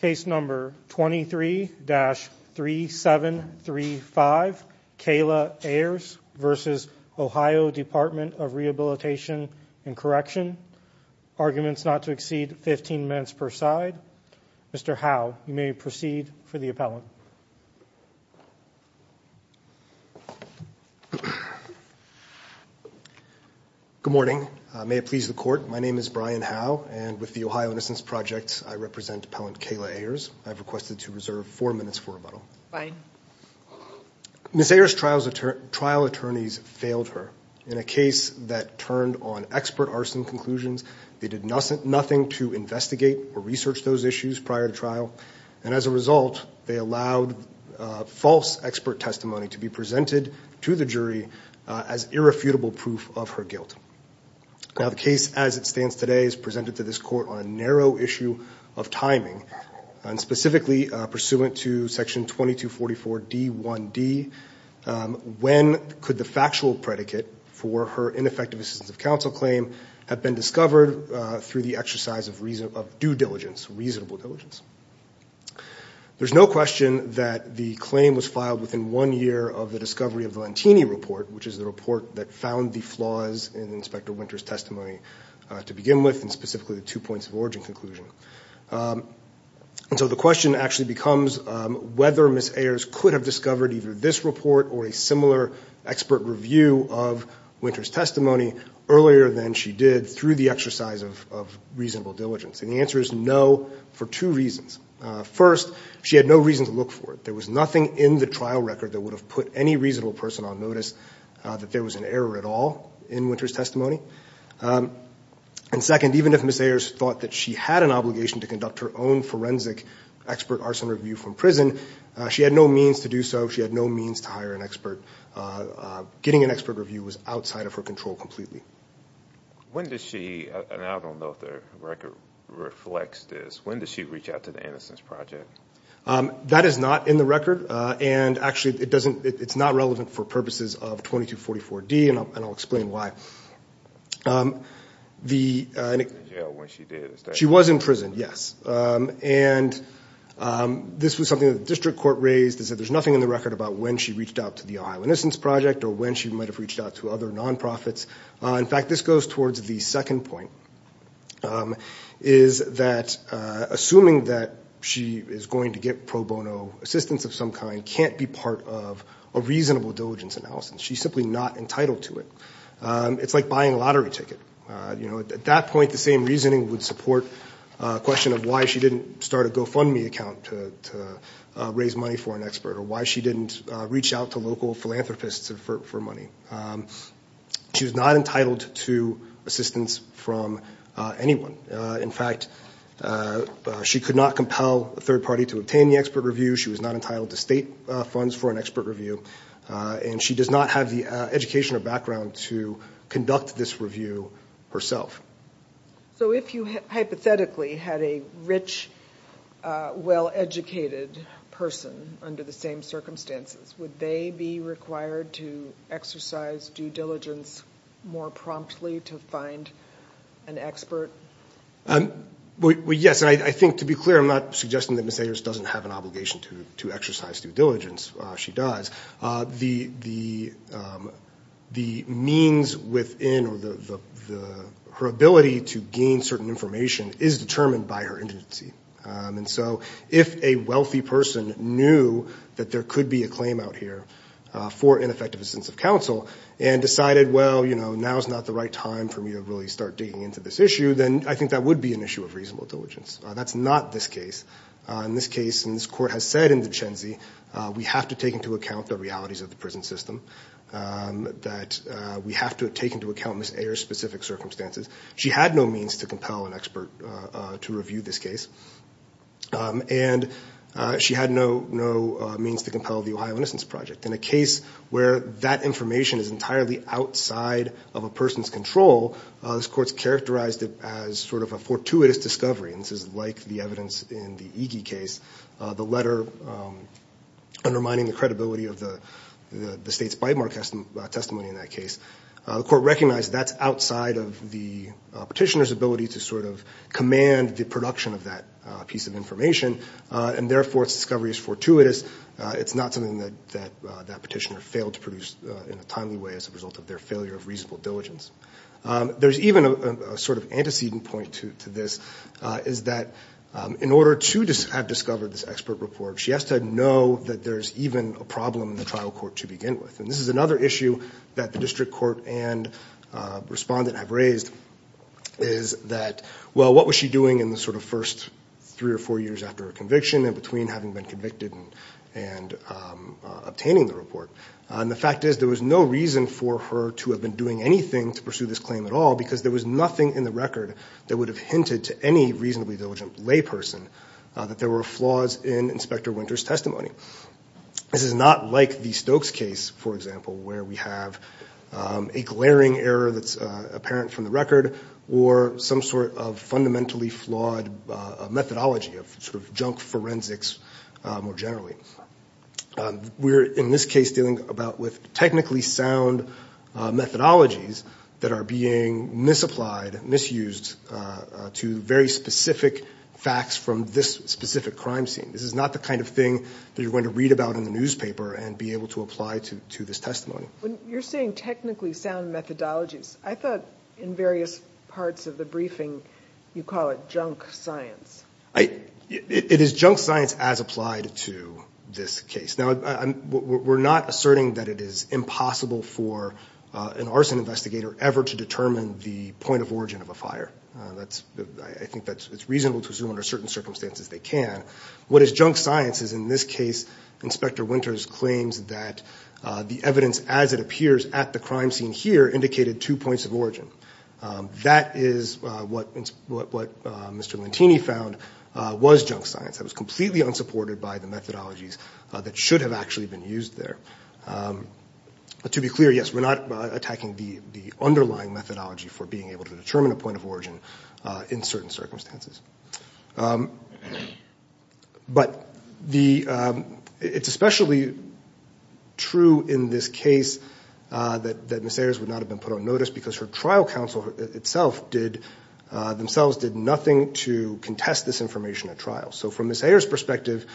Case number 23-3735 Kayla Ayers v. Ohio Dept of Rehabilitation and Correction, arguments not to exceed 15 minutes per side. Mr. Howe, you may proceed for the appellant. Good morning. May it please the court, my name is Brian Howe, and with the Ohio Innocence Project, I represent Appellant Kayla Ayers. I've requested to reserve four minutes for rebuttal. Ms. Ayers' trial attorneys failed her in a case that turned on expert arson conclusions. They did nothing to investigate or research those issues prior to trial, and as a result, they allowed false expert testimony to be presented to the jury as irrefutable proof of her guilt. Now, the case as it stands today is presented to this court on a narrow issue of timing, and specifically pursuant to section 2244D1D, when could the factual predicate for her ineffective assistance of counsel claim have been discovered through the exercise of due diligence, reasonable diligence? There's no question that the claim was filed within one year of the discovery of the Lantini Report, which is the report that found the flaws in Inspector Winter's testimony to begin with, and specifically the two points of origin conclusion. And so the question actually becomes whether Ms. Ayers could have discovered either this report or a similar expert review of Winter's testimony earlier than she did through the exercise of reasonable diligence, and the answer is no for two reasons. First, she had no reason to look for it. There was nothing in the trial record that would have put any reasonable person on notice that there was an error at all in Winter's testimony. And second, even if Ms. Ayers thought that she had an obligation to conduct her own forensic expert arson review from prison, she had no means to do so. She had no means to hire an expert. Getting an expert review was outside of her control completely. When does she, and I don't know if the record reflects this, when does she reach out to the Innocence Project? That is not in the record, and actually it's not relevant for purposes of 2244D, and I'll explain why. She was in prison, yes. And this was something that the district court raised, is that there's nothing in the record about when she reached out to the Ohio Innocence Project or when she might have reached out to other nonprofits. In fact, this goes towards the second point, is that assuming that she is going to get pro bono assistance of some kind can't be part of a reasonable diligence analysis. She's simply not entitled to it. It's like buying a lottery ticket. At that point, the same reasoning would support a question of why she didn't start a GoFundMe account to raise money for an expert, or why she didn't reach out to local philanthropists for money. She was not entitled to assistance from anyone. In fact, she could not compel a third party to obtain the expert review. She was not entitled to state funds for an expert review, and she does not have the education or background to conduct this review herself. So if you hypothetically had a rich, well-educated person under the same circumstances, would they be required to exercise due diligence more promptly to find an expert? Well, yes. And I think, to be clear, I'm not suggesting that Ms. Ayers doesn't have an obligation to exercise due diligence. She does. The means within her ability to gain certain information is determined by her indigency. And so if a wealthy person knew that there could be a claim out here for ineffective assistance of counsel, and decided, well, you know, now is not the right time for me to really start digging into this issue, then I think that would be an issue of reasonable diligence. That's not this case. In this case, and this Court has said in the Duchenne Zee, we have to take into account the realities of the prison system, that we have to take into account Ms. Ayers' specific circumstances. She had no means to compel an expert to review this case. And she had no means to compel the Ohio Innocence Project. In a case where that information is entirely outside of a person's control, this Court's characterized it as sort of a fortuitous discovery. And this is like the evidence in the Iggy case, the letter undermining the credibility of the state's bite mark testimony in that case. The Court recognized that's outside of the petitioner's ability to sort of command the production of that piece of information, and therefore its discovery is fortuitous. It's not something that that petitioner failed to produce in a timely way as a result of their failure of reasonable diligence. There's even a sort of antecedent point to this, is that in order to have discovered this expert report, she has to know that there's even a problem in the trial court to begin with. And this is another issue that the district court and respondent have raised, is that, well, what was she doing in the sort of first three or four years after her conviction, in between having been convicted and obtaining the report? And the fact is, there was no reason for her to have been doing anything to pursue this claim at all, because there was nothing in the record that would have hinted to any reasonably diligent layperson that there were flaws in Inspector Winter's testimony. This is not like the Stokes case, for example, where we have a glaring error that's apparent from the record, or some sort of fundamentally flawed methodology of sort of junk forensics more generally. We're, in this case, dealing with technically sound methodologies that are being misapplied, misused, to very specific facts from this specific crime scene. This is not the kind of thing that you're going to read about in the newspaper and be able to apply to this testimony. You're saying technically sound methodologies. I thought in various parts of the briefing you call it junk science. It is junk science as applied to this case. Now, we're not asserting that it is impossible for an arson investigator ever to determine the point of origin of a fire. I think it's reasonable to assume under certain circumstances they can. What is junk science is, in this case, Inspector Winter's claims that the evidence as it appears at the crime scene here indicated two points of origin. That is what Mr. Lentini found was junk science. That was completely unsupported by the methodologies that should have actually been used there. To be clear, yes, we're not attacking the underlying methodology for being able to determine a point of origin in certain circumstances. But it's especially true in this case that Ms. Ayers would not have been put on notice because her trial counsel themselves did nothing to contest this information at trial. So from Ms. Ayers' perspective,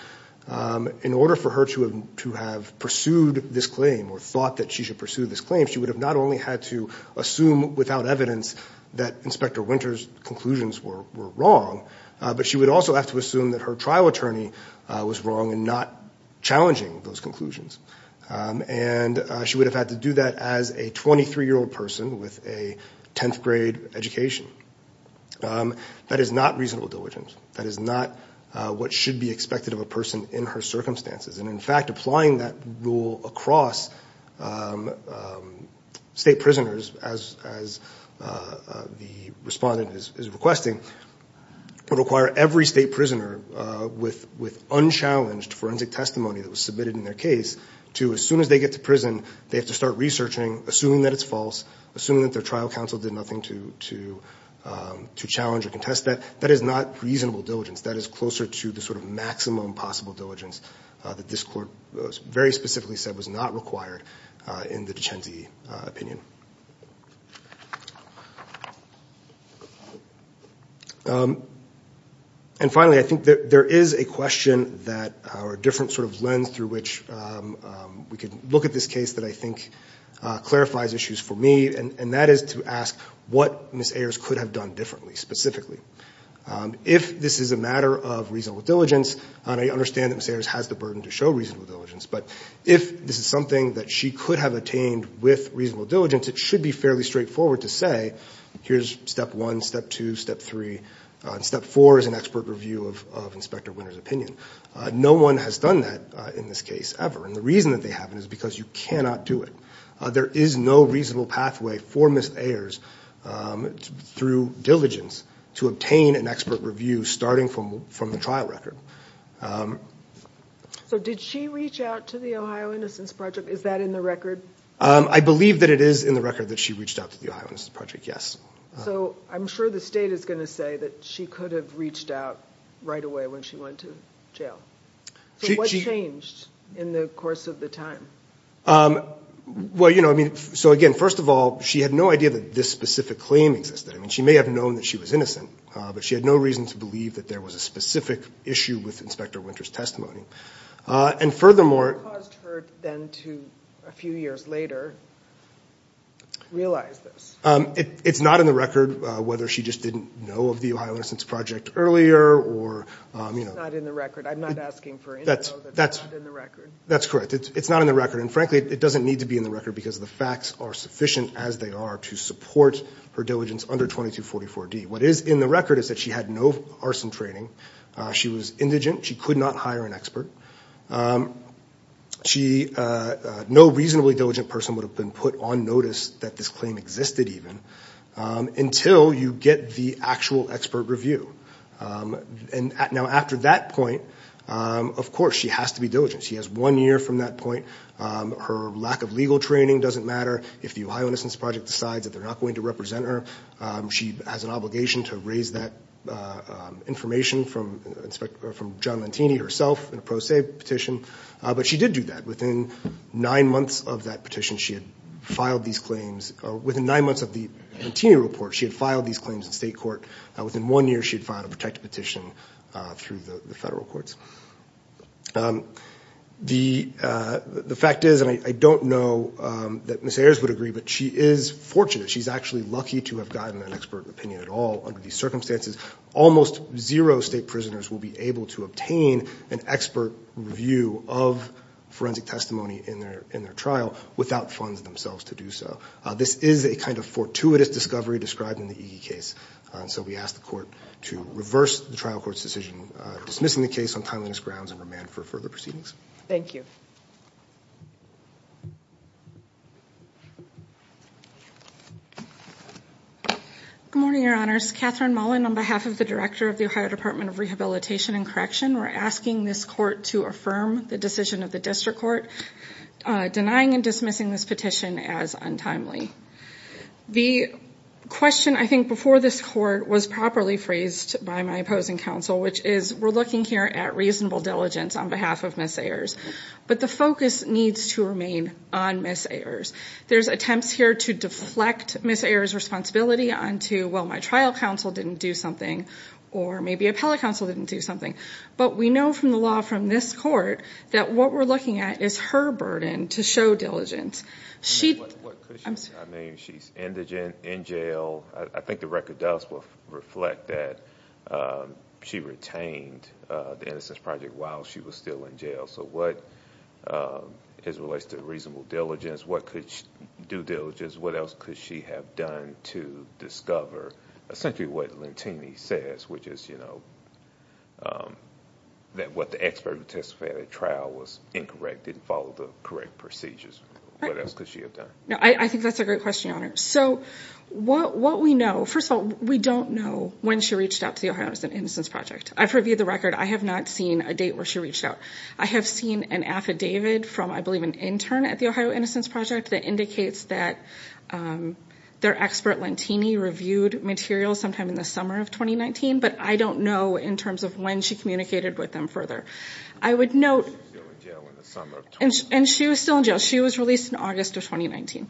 in order for her to have pursued this claim or thought that she should pursue this claim, she would have not only had to assume without evidence that Inspector Winter's conclusions were wrong, but she would also have to assume that her trial attorney was wrong in not challenging those conclusions. And she would have had to do that as a 23-year-old person with a 10th grade education. That is not reasonable diligence. That is not what should be expected of a person in her circumstances. And, in fact, applying that rule across state prisoners, as the respondent is requesting, would require every state prisoner with unchallenged forensic testimony that was submitted in their case to, as soon as they get to prison, they have to start researching, assuming that it's false, assuming that their trial counsel did nothing to challenge or contest that. That is not reasonable diligence. That is closer to the sort of maximum possible diligence that this court very specifically said was not required in the Dicenzi opinion. And, finally, I think there is a question that or a different sort of lens through which we could look at this case that I think clarifies issues for me, and that is to ask what Ms. Ayers could have done differently, specifically. If this is a matter of reasonable diligence, and I understand that Ms. Ayers has the burden to show reasonable diligence, but if this is something that she could have attained with reasonable diligence, it should be fairly straightforward to say, here's step one, step two, step three, and step four is an expert review of Inspector Winter's opinion. No one has done that in this case ever. And the reason that they haven't is because you cannot do it. There is no reasonable pathway for Ms. Ayers through diligence to obtain an expert review starting from the trial record. So did she reach out to the Ohio Innocence Project? Is that in the record? I believe that it is in the record that she reached out to the Ohio Innocence Project, yes. So I'm sure the state is going to say that she could have reached out right away when she went to jail. So what changed in the course of the time? Well, you know, I mean, so again, first of all, she had no idea that this specific claim existed. I mean, she may have known that she was innocent, but she had no reason to believe that there was a specific issue with Inspector Winter's testimony. And furthermore, What caused her then to, a few years later, realize this? It's not in the record whether she just didn't know of the Ohio Innocence Project earlier or, you know. It's not in the record. I'm not asking for info that's not in the record. That's correct. It's not in the record, and frankly, it doesn't need to be in the record because the facts are sufficient as they are to support her diligence under 2244D. What is in the record is that she had no arson training. She was indigent. She could not hire an expert. No reasonably diligent person would have been put on notice that this claim existed even until you get the actual expert review. And now after that point, of course, she has to be diligent. She has one year from that point. Her lack of legal training doesn't matter. If the Ohio Innocence Project decides that they're not going to represent her, she has an obligation to raise that information from John Lantini herself in a pro se petition. But she did do that. Within nine months of that petition, she had filed these claims. Within nine months of the Lantini report, she had filed these claims in state court. Within one year, she had filed a protected petition through the federal courts. The fact is, and I don't know that Ms. Ayers would agree, but she is fortunate. She's actually lucky to have gotten an expert opinion at all under these circumstances. Almost zero state prisoners will be able to obtain an expert review of forensic testimony in their trial without funds themselves to do so. This is a kind of fortuitous discovery described in the EG case. So we ask the court to reverse the trial court's decision dismissing the case on timeliness grounds and remand for further proceedings. Thank you. Good morning, Your Honors. Catherine Mullen on behalf of the Director of the Ohio Department of Rehabilitation and Correction. We're asking this court to affirm the decision of the district court denying and dismissing this petition as untimely. The question, I think, before this court was properly phrased by my opposing counsel, which is we're looking here at reasonable diligence on behalf of Ms. Ayers, but the focus needs to remain on Ms. Ayers. There's attempts here to deflect Ms. Ayers' responsibility onto, well, my trial counsel didn't do something or maybe appellate counsel didn't do something. But we know from the law from this court that what we're looking at is her burden to show diligence. I mean, she's in jail. I think the record does reflect that she retained the Innocence Project while she was still in jail. So what is related to reasonable diligence? What could due diligence, what else could she have done to discover essentially what Lantini says, which is, you know, that what the expert testified at trial was incorrect, didn't follow the correct procedures. What else could she have done? I think that's a great question, Your Honor. So what we know, first of all, we don't know when she reached out to the Ohio Innocence Project. I've reviewed the record. I have not seen a date where she reached out. I have seen an affidavit from, I believe, an intern at the Ohio Innocence Project that indicates that their expert Lantini reviewed materials sometime in the summer of 2019, but I don't know in terms of when she communicated with them further. I would note... She was still in jail in the summer of 2019. And she was still in jail. She was released in August of 2019.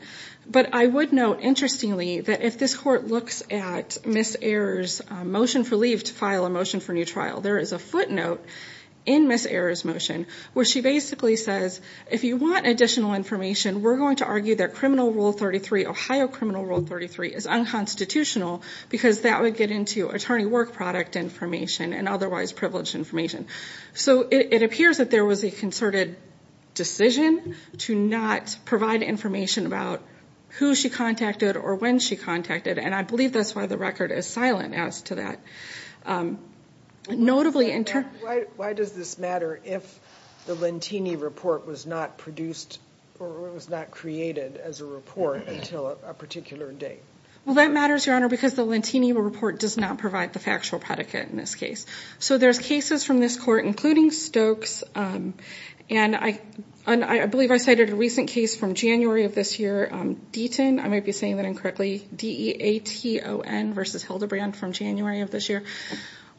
But I would note, interestingly, that if this Court looks at Ms. Ayers' motion for leave to file a motion for new trial, there is a footnote in Ms. Ayers' motion where she basically says, if you want additional information, we're going to argue that Criminal Rule 33, Ohio Criminal Rule 33, is unconstitutional because that would get into attorney work product information and otherwise privileged information. So it appears that there was a concerted decision to not provide information about who she contacted or when she contacted, and I believe that's why the record is silent as to that. Notably, in terms... Why does this matter if the Lantini report was not produced or was not created as a report until a particular date? Well, that matters, Your Honor, because the Lantini report does not provide the factual predicate in this case. So there's cases from this Court, including Stokes, and I believe I cited a recent case from January of this year, Deaton. I might be saying that incorrectly. D-E-A-T-O-N versus Hildebrand from January of this year.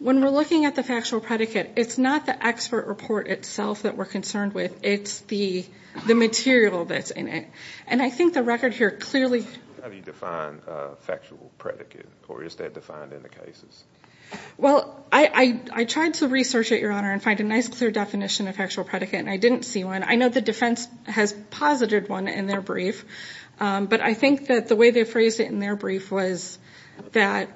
When we're looking at the factual predicate, it's not the expert report itself that we're concerned with. It's the material that's in it. And I think the record here clearly... How do you define factual predicate, or is that defined in the cases? Well, I tried to research it, Your Honor, and find a nice clear definition of factual predicate, and I didn't see one. I know the defense has posited one in their brief, but I think that the way they phrased it in their brief was that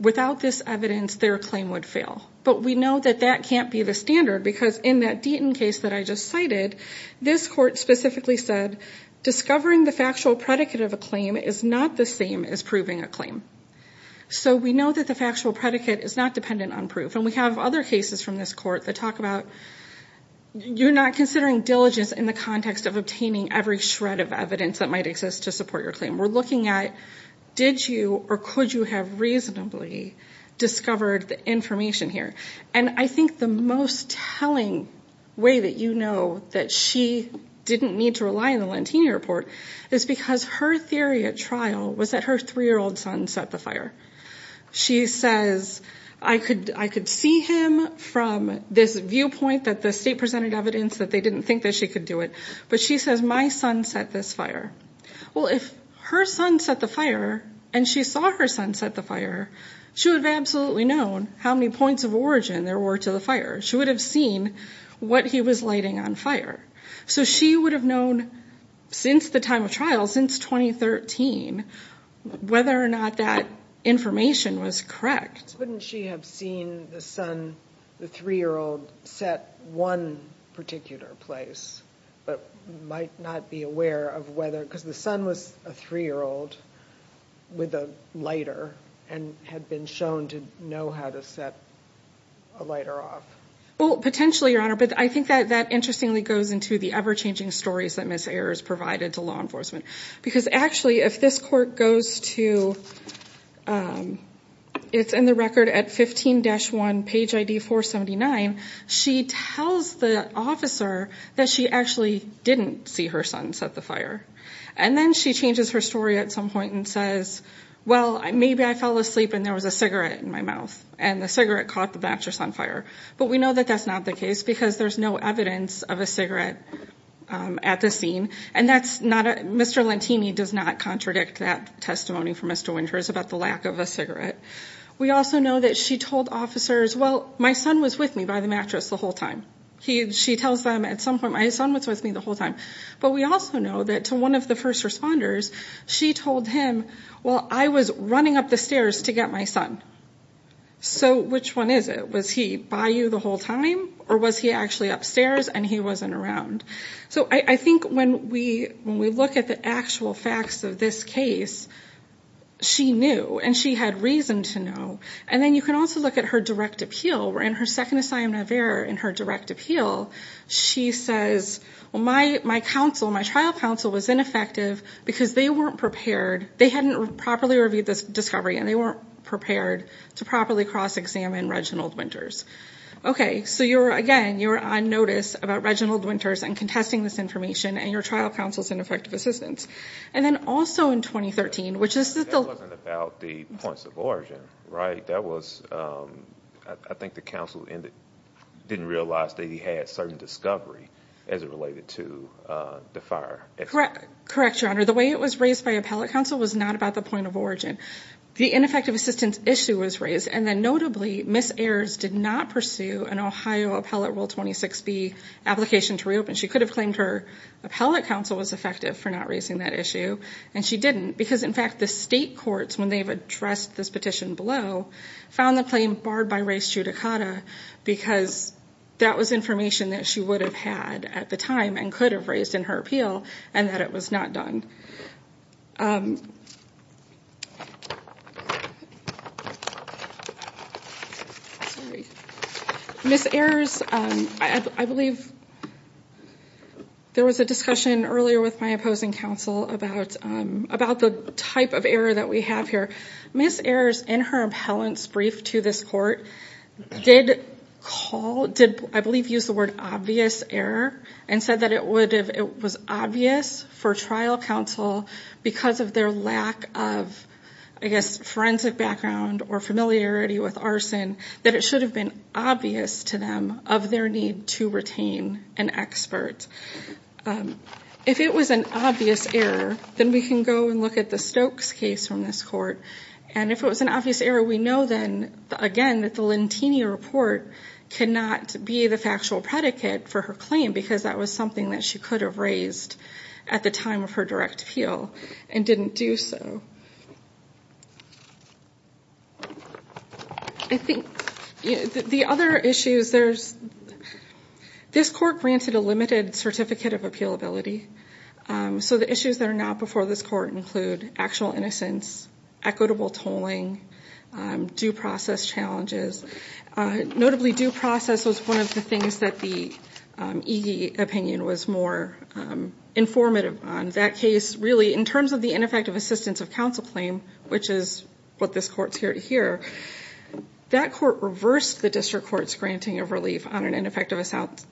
without this evidence, their claim would fail. But we know that that can't be the standard because in that Deaton case that I just cited, this Court specifically said discovering the factual predicate of a claim is not the same as proving a claim. So we know that the factual predicate is not dependent on proof. And we have other cases from this Court that talk about you're not considering diligence in the context of obtaining every shred of evidence that might exist to support your claim. We're looking at did you or could you have reasonably discovered the information here. And I think the most telling way that you know that she didn't need to rely on the Lantini Report is because her theory at trial was that her 3-year-old son set the fire. She says, I could see him from this viewpoint that the state presented evidence that they didn't think that she could do it, but she says my son set this fire. Well, if her son set the fire, and she saw her son set the fire, she would have absolutely known how many points of origin there were to the fire. She would have seen what he was lighting on fire. So she would have known since the time of trial, since 2013, whether or not that information was correct. Wouldn't she have seen the son, the 3-year-old, set one particular place, but might not be aware of whether, because the son was a 3-year-old with a lighter and had been shown to know how to set a lighter off? Well, potentially, Your Honor, but I think that interestingly goes into the ever-changing stories that Ms. Ayers provided to law enforcement. Because actually, if this court goes to, it's in the record at 15-1, page ID 479, she tells the officer that she actually didn't see her son set the fire. And then she changes her story at some point and says, well, maybe I fell asleep and there was a cigarette in my mouth, and the cigarette caught the mattress on fire. But we know that that's not the case, because there's no evidence of a cigarette at the scene. And Mr. Lantini does not contradict that testimony from Mr. Winters about the lack of a cigarette. We also know that she told officers, well, my son was with me by the mattress the whole time. She tells them at some point, my son was with me the whole time. But we also know that to one of the first responders, she told him, well, I was running up the stairs to get my son. So which one is it? Was he by you the whole time, or was he actually upstairs and he wasn't around? So I think when we look at the actual facts of this case, she knew, and she had reason to know. And then you can also look at her direct appeal. In her second assignment of error in her direct appeal, she says, well, my trial counsel was ineffective because they weren't prepared. They hadn't properly reviewed this discovery, and they weren't prepared to properly cross-examine Reginald Winters. Okay. So, again, you're on notice about Reginald Winters and contesting this information, and your trial counsel is ineffective assistance. And then also in 2013, which is still ‑‑ That wasn't about the points of origin, right? I think the counsel didn't realize that he had certain discovery as it related to the fire. Correct, Your Honor. The way it was raised by appellate counsel was not about the point of origin. The ineffective assistance issue was raised, and then notably Ms. Ayers did not pursue an Ohio Appellate Rule 26B application to reopen. She could have claimed her appellate counsel was effective for not raising that issue, and she didn't because, in fact, the state courts, when they've addressed this petition below, found the claim barred by res judicata because that was information that she would have had at the time and could have raised in her appeal and that it was not done. Sorry. Ms. Ayers, I believe there was a discussion earlier with my opposing counsel about the type of error that we have here. Ms. Ayers, in her appellant's brief to this court, did call ‑‑ I believe used the word obvious error and said that it was obvious for trial counsel, because of their lack of, I guess, forensic background or familiarity with arson, that it should have been obvious to them of their need to retain an expert. If it was an obvious error, then we can go and look at the Stokes case from this court, and if it was an obvious error, we know then, again, that the Lentini report cannot be the factual predicate for her claim because that was something that she could have raised at the time of her direct appeal and didn't do so. I think the other issues, this court granted a limited certificate of appealability, so the issues that are not before this court include actual innocence, equitable tolling, due process challenges. Notably, due process was one of the things that the EG opinion was more informative on. That case, really, in terms of the ineffective assistance of counsel claim, which is what this court's here to hear, that court reversed the district court's granting of relief on an ineffective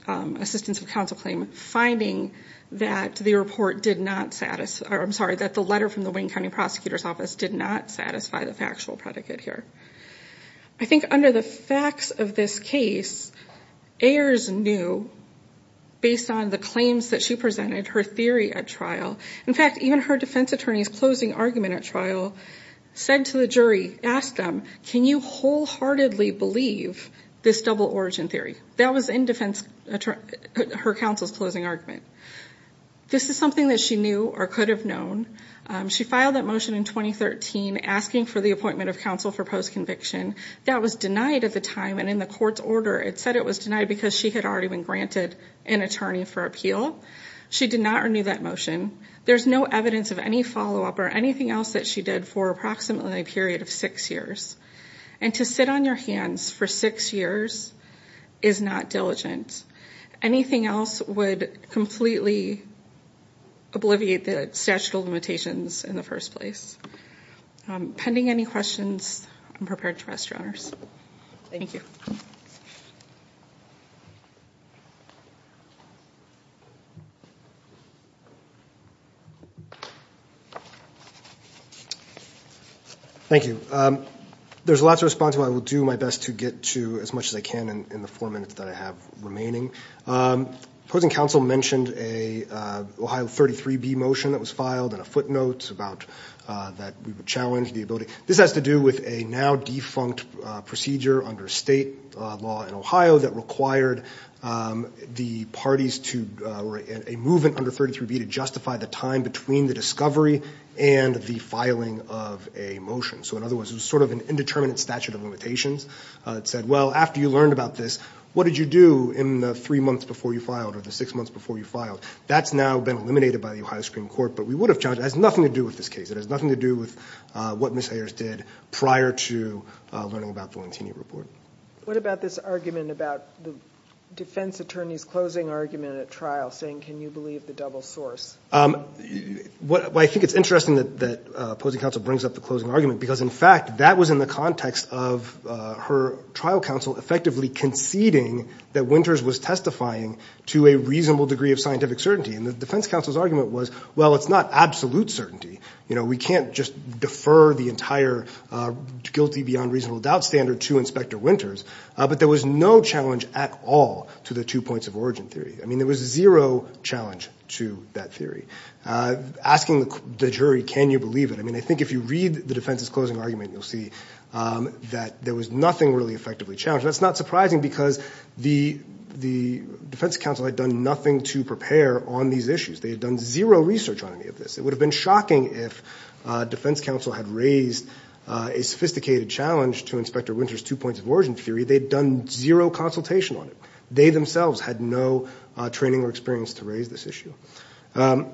assistance of counsel claim, finding that the report did not ‑‑ I'm sorry, that the letter from the Wayne County Prosecutor's Office did not satisfy the factual predicate here. I think under the facts of this case, Ayers knew, based on the claims that she presented, her theory at trial, in fact, even her defense attorney's closing argument at trial, said to the jury, asked them, can you wholeheartedly believe this double origin theory? That was in her counsel's closing argument. This is something that she knew or could have known. She filed that motion in 2013, asking for the appointment of counsel for postconviction. That was denied at the time, and in the court's order, it said it was denied because she had already been granted an attorney for appeal. She did not renew that motion. There's no evidence of any follow-up or anything else that she did for approximately a period of six years. And to sit on your hands for six years is not diligent. Anything else would completely obliviate the statute of limitations in the first place. Pending any questions, I'm prepared to rest, Your Honors. Thank you. Thank you. There's a lot to respond to, but I will do my best to get to as much as I can in the four minutes that I have remaining. Opposing counsel mentioned an Ohio 33b motion that was filed and a footnote that we would challenge the ability. This has to do with a now-defunct procedure under state law in Ohio that required the parties or a movement under 33b to justify the time between the discovery and the filing of a motion. So in other words, it was sort of an indeterminate statute of limitations. It said, well, after you learned about this, what did you do in the three months before you filed or the six months before you filed? That's now been eliminated by the Ohio Supreme Court, but we would have challenged it. It has nothing to do with this case. It has nothing to do with what Ms. Hayers did prior to learning about Valentini Report. What about this argument about the defense attorney's closing argument at trial, saying can you believe the double source? I think it's interesting that opposing counsel brings up the closing argument because, in fact, that was in the context of her trial counsel effectively conceding that Winters was testifying to a reasonable degree of scientific certainty. And the defense counsel's argument was, well, it's not absolute certainty. You know, we can't just defer the entire guilty beyond reasonable doubt standard to Inspector Winters. But there was no challenge at all to the two points of origin theory. I mean, there was zero challenge to that theory. Asking the jury, can you believe it? I mean, I think if you read the defense's closing argument, you'll see that there was nothing really effectively challenged. That's not surprising because the defense counsel had done nothing to prepare on these issues. They had done zero research on any of this. It would have been shocking if defense counsel had raised a sophisticated challenge to Inspector Winters' two points of origin theory. They'd done zero consultation on it. They themselves had no training or experience to raise this issue. In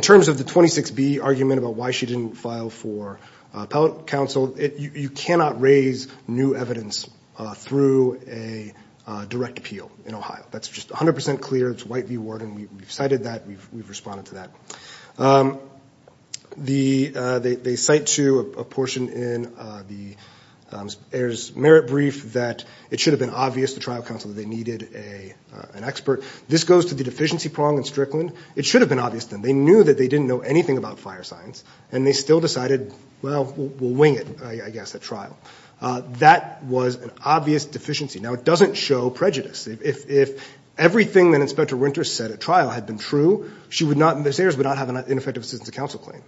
terms of the 26B argument about why she didn't file for appellate counsel, you cannot raise new evidence through a direct appeal in Ohio. That's just 100% clear. It's White v. Worden. We've cited that. We've responded to that. They cite to a portion in the heirs' merit brief that it should have been obvious to trial counsel that they needed an expert. This goes to the deficiency prong in Strickland. It should have been obvious to them. They knew that they didn't know anything about fire science, and they still decided, well, we'll wing it, I guess, at trial. That was an obvious deficiency. Now, it doesn't show prejudice. If everything that Inspector Winters said at trial had been true, the heirs would not have an ineffective assistance to counsel claim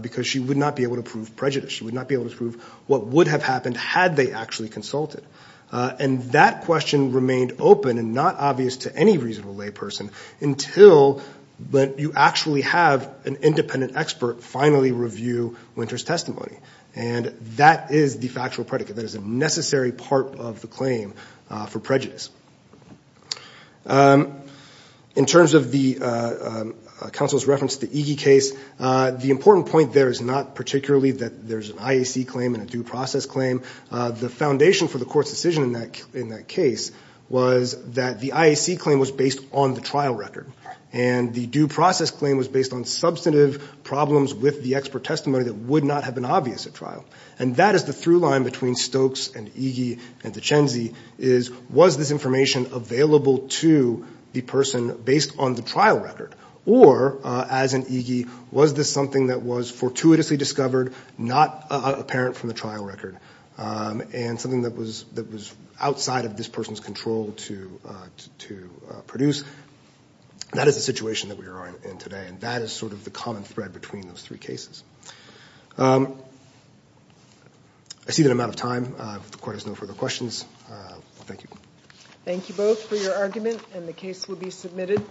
because she would not be able to prove prejudice. She would not be able to prove what would have happened had they actually consulted. And that question remained open and not obvious to any reasonable layperson until you actually have an independent expert finally review Winters' testimony. And that is the factual predicate. That is a necessary part of the claim for prejudice. In terms of the counsel's reference to the Iggy case, the important point there is not particularly that there's an IAC claim and a due process claim. The foundation for the court's decision in that case was that the IAC claim was based on the trial record, and the due process claim was based on substantive problems with the expert testimony that would not have been obvious at trial. And that is the through line between Stokes and Iggy and DeChenzey is, was this information available to the person based on the trial record? Or, as in Iggy, was this something that was fortuitously discovered, not apparent from the trial record, and something that was outside of this person's control to produce? That is the situation that we are in today, and that is sort of the common thread between those three cases. I see that I'm out of time. If the court has no further questions, thank you. Thank you both for your argument, and the case will be submitted.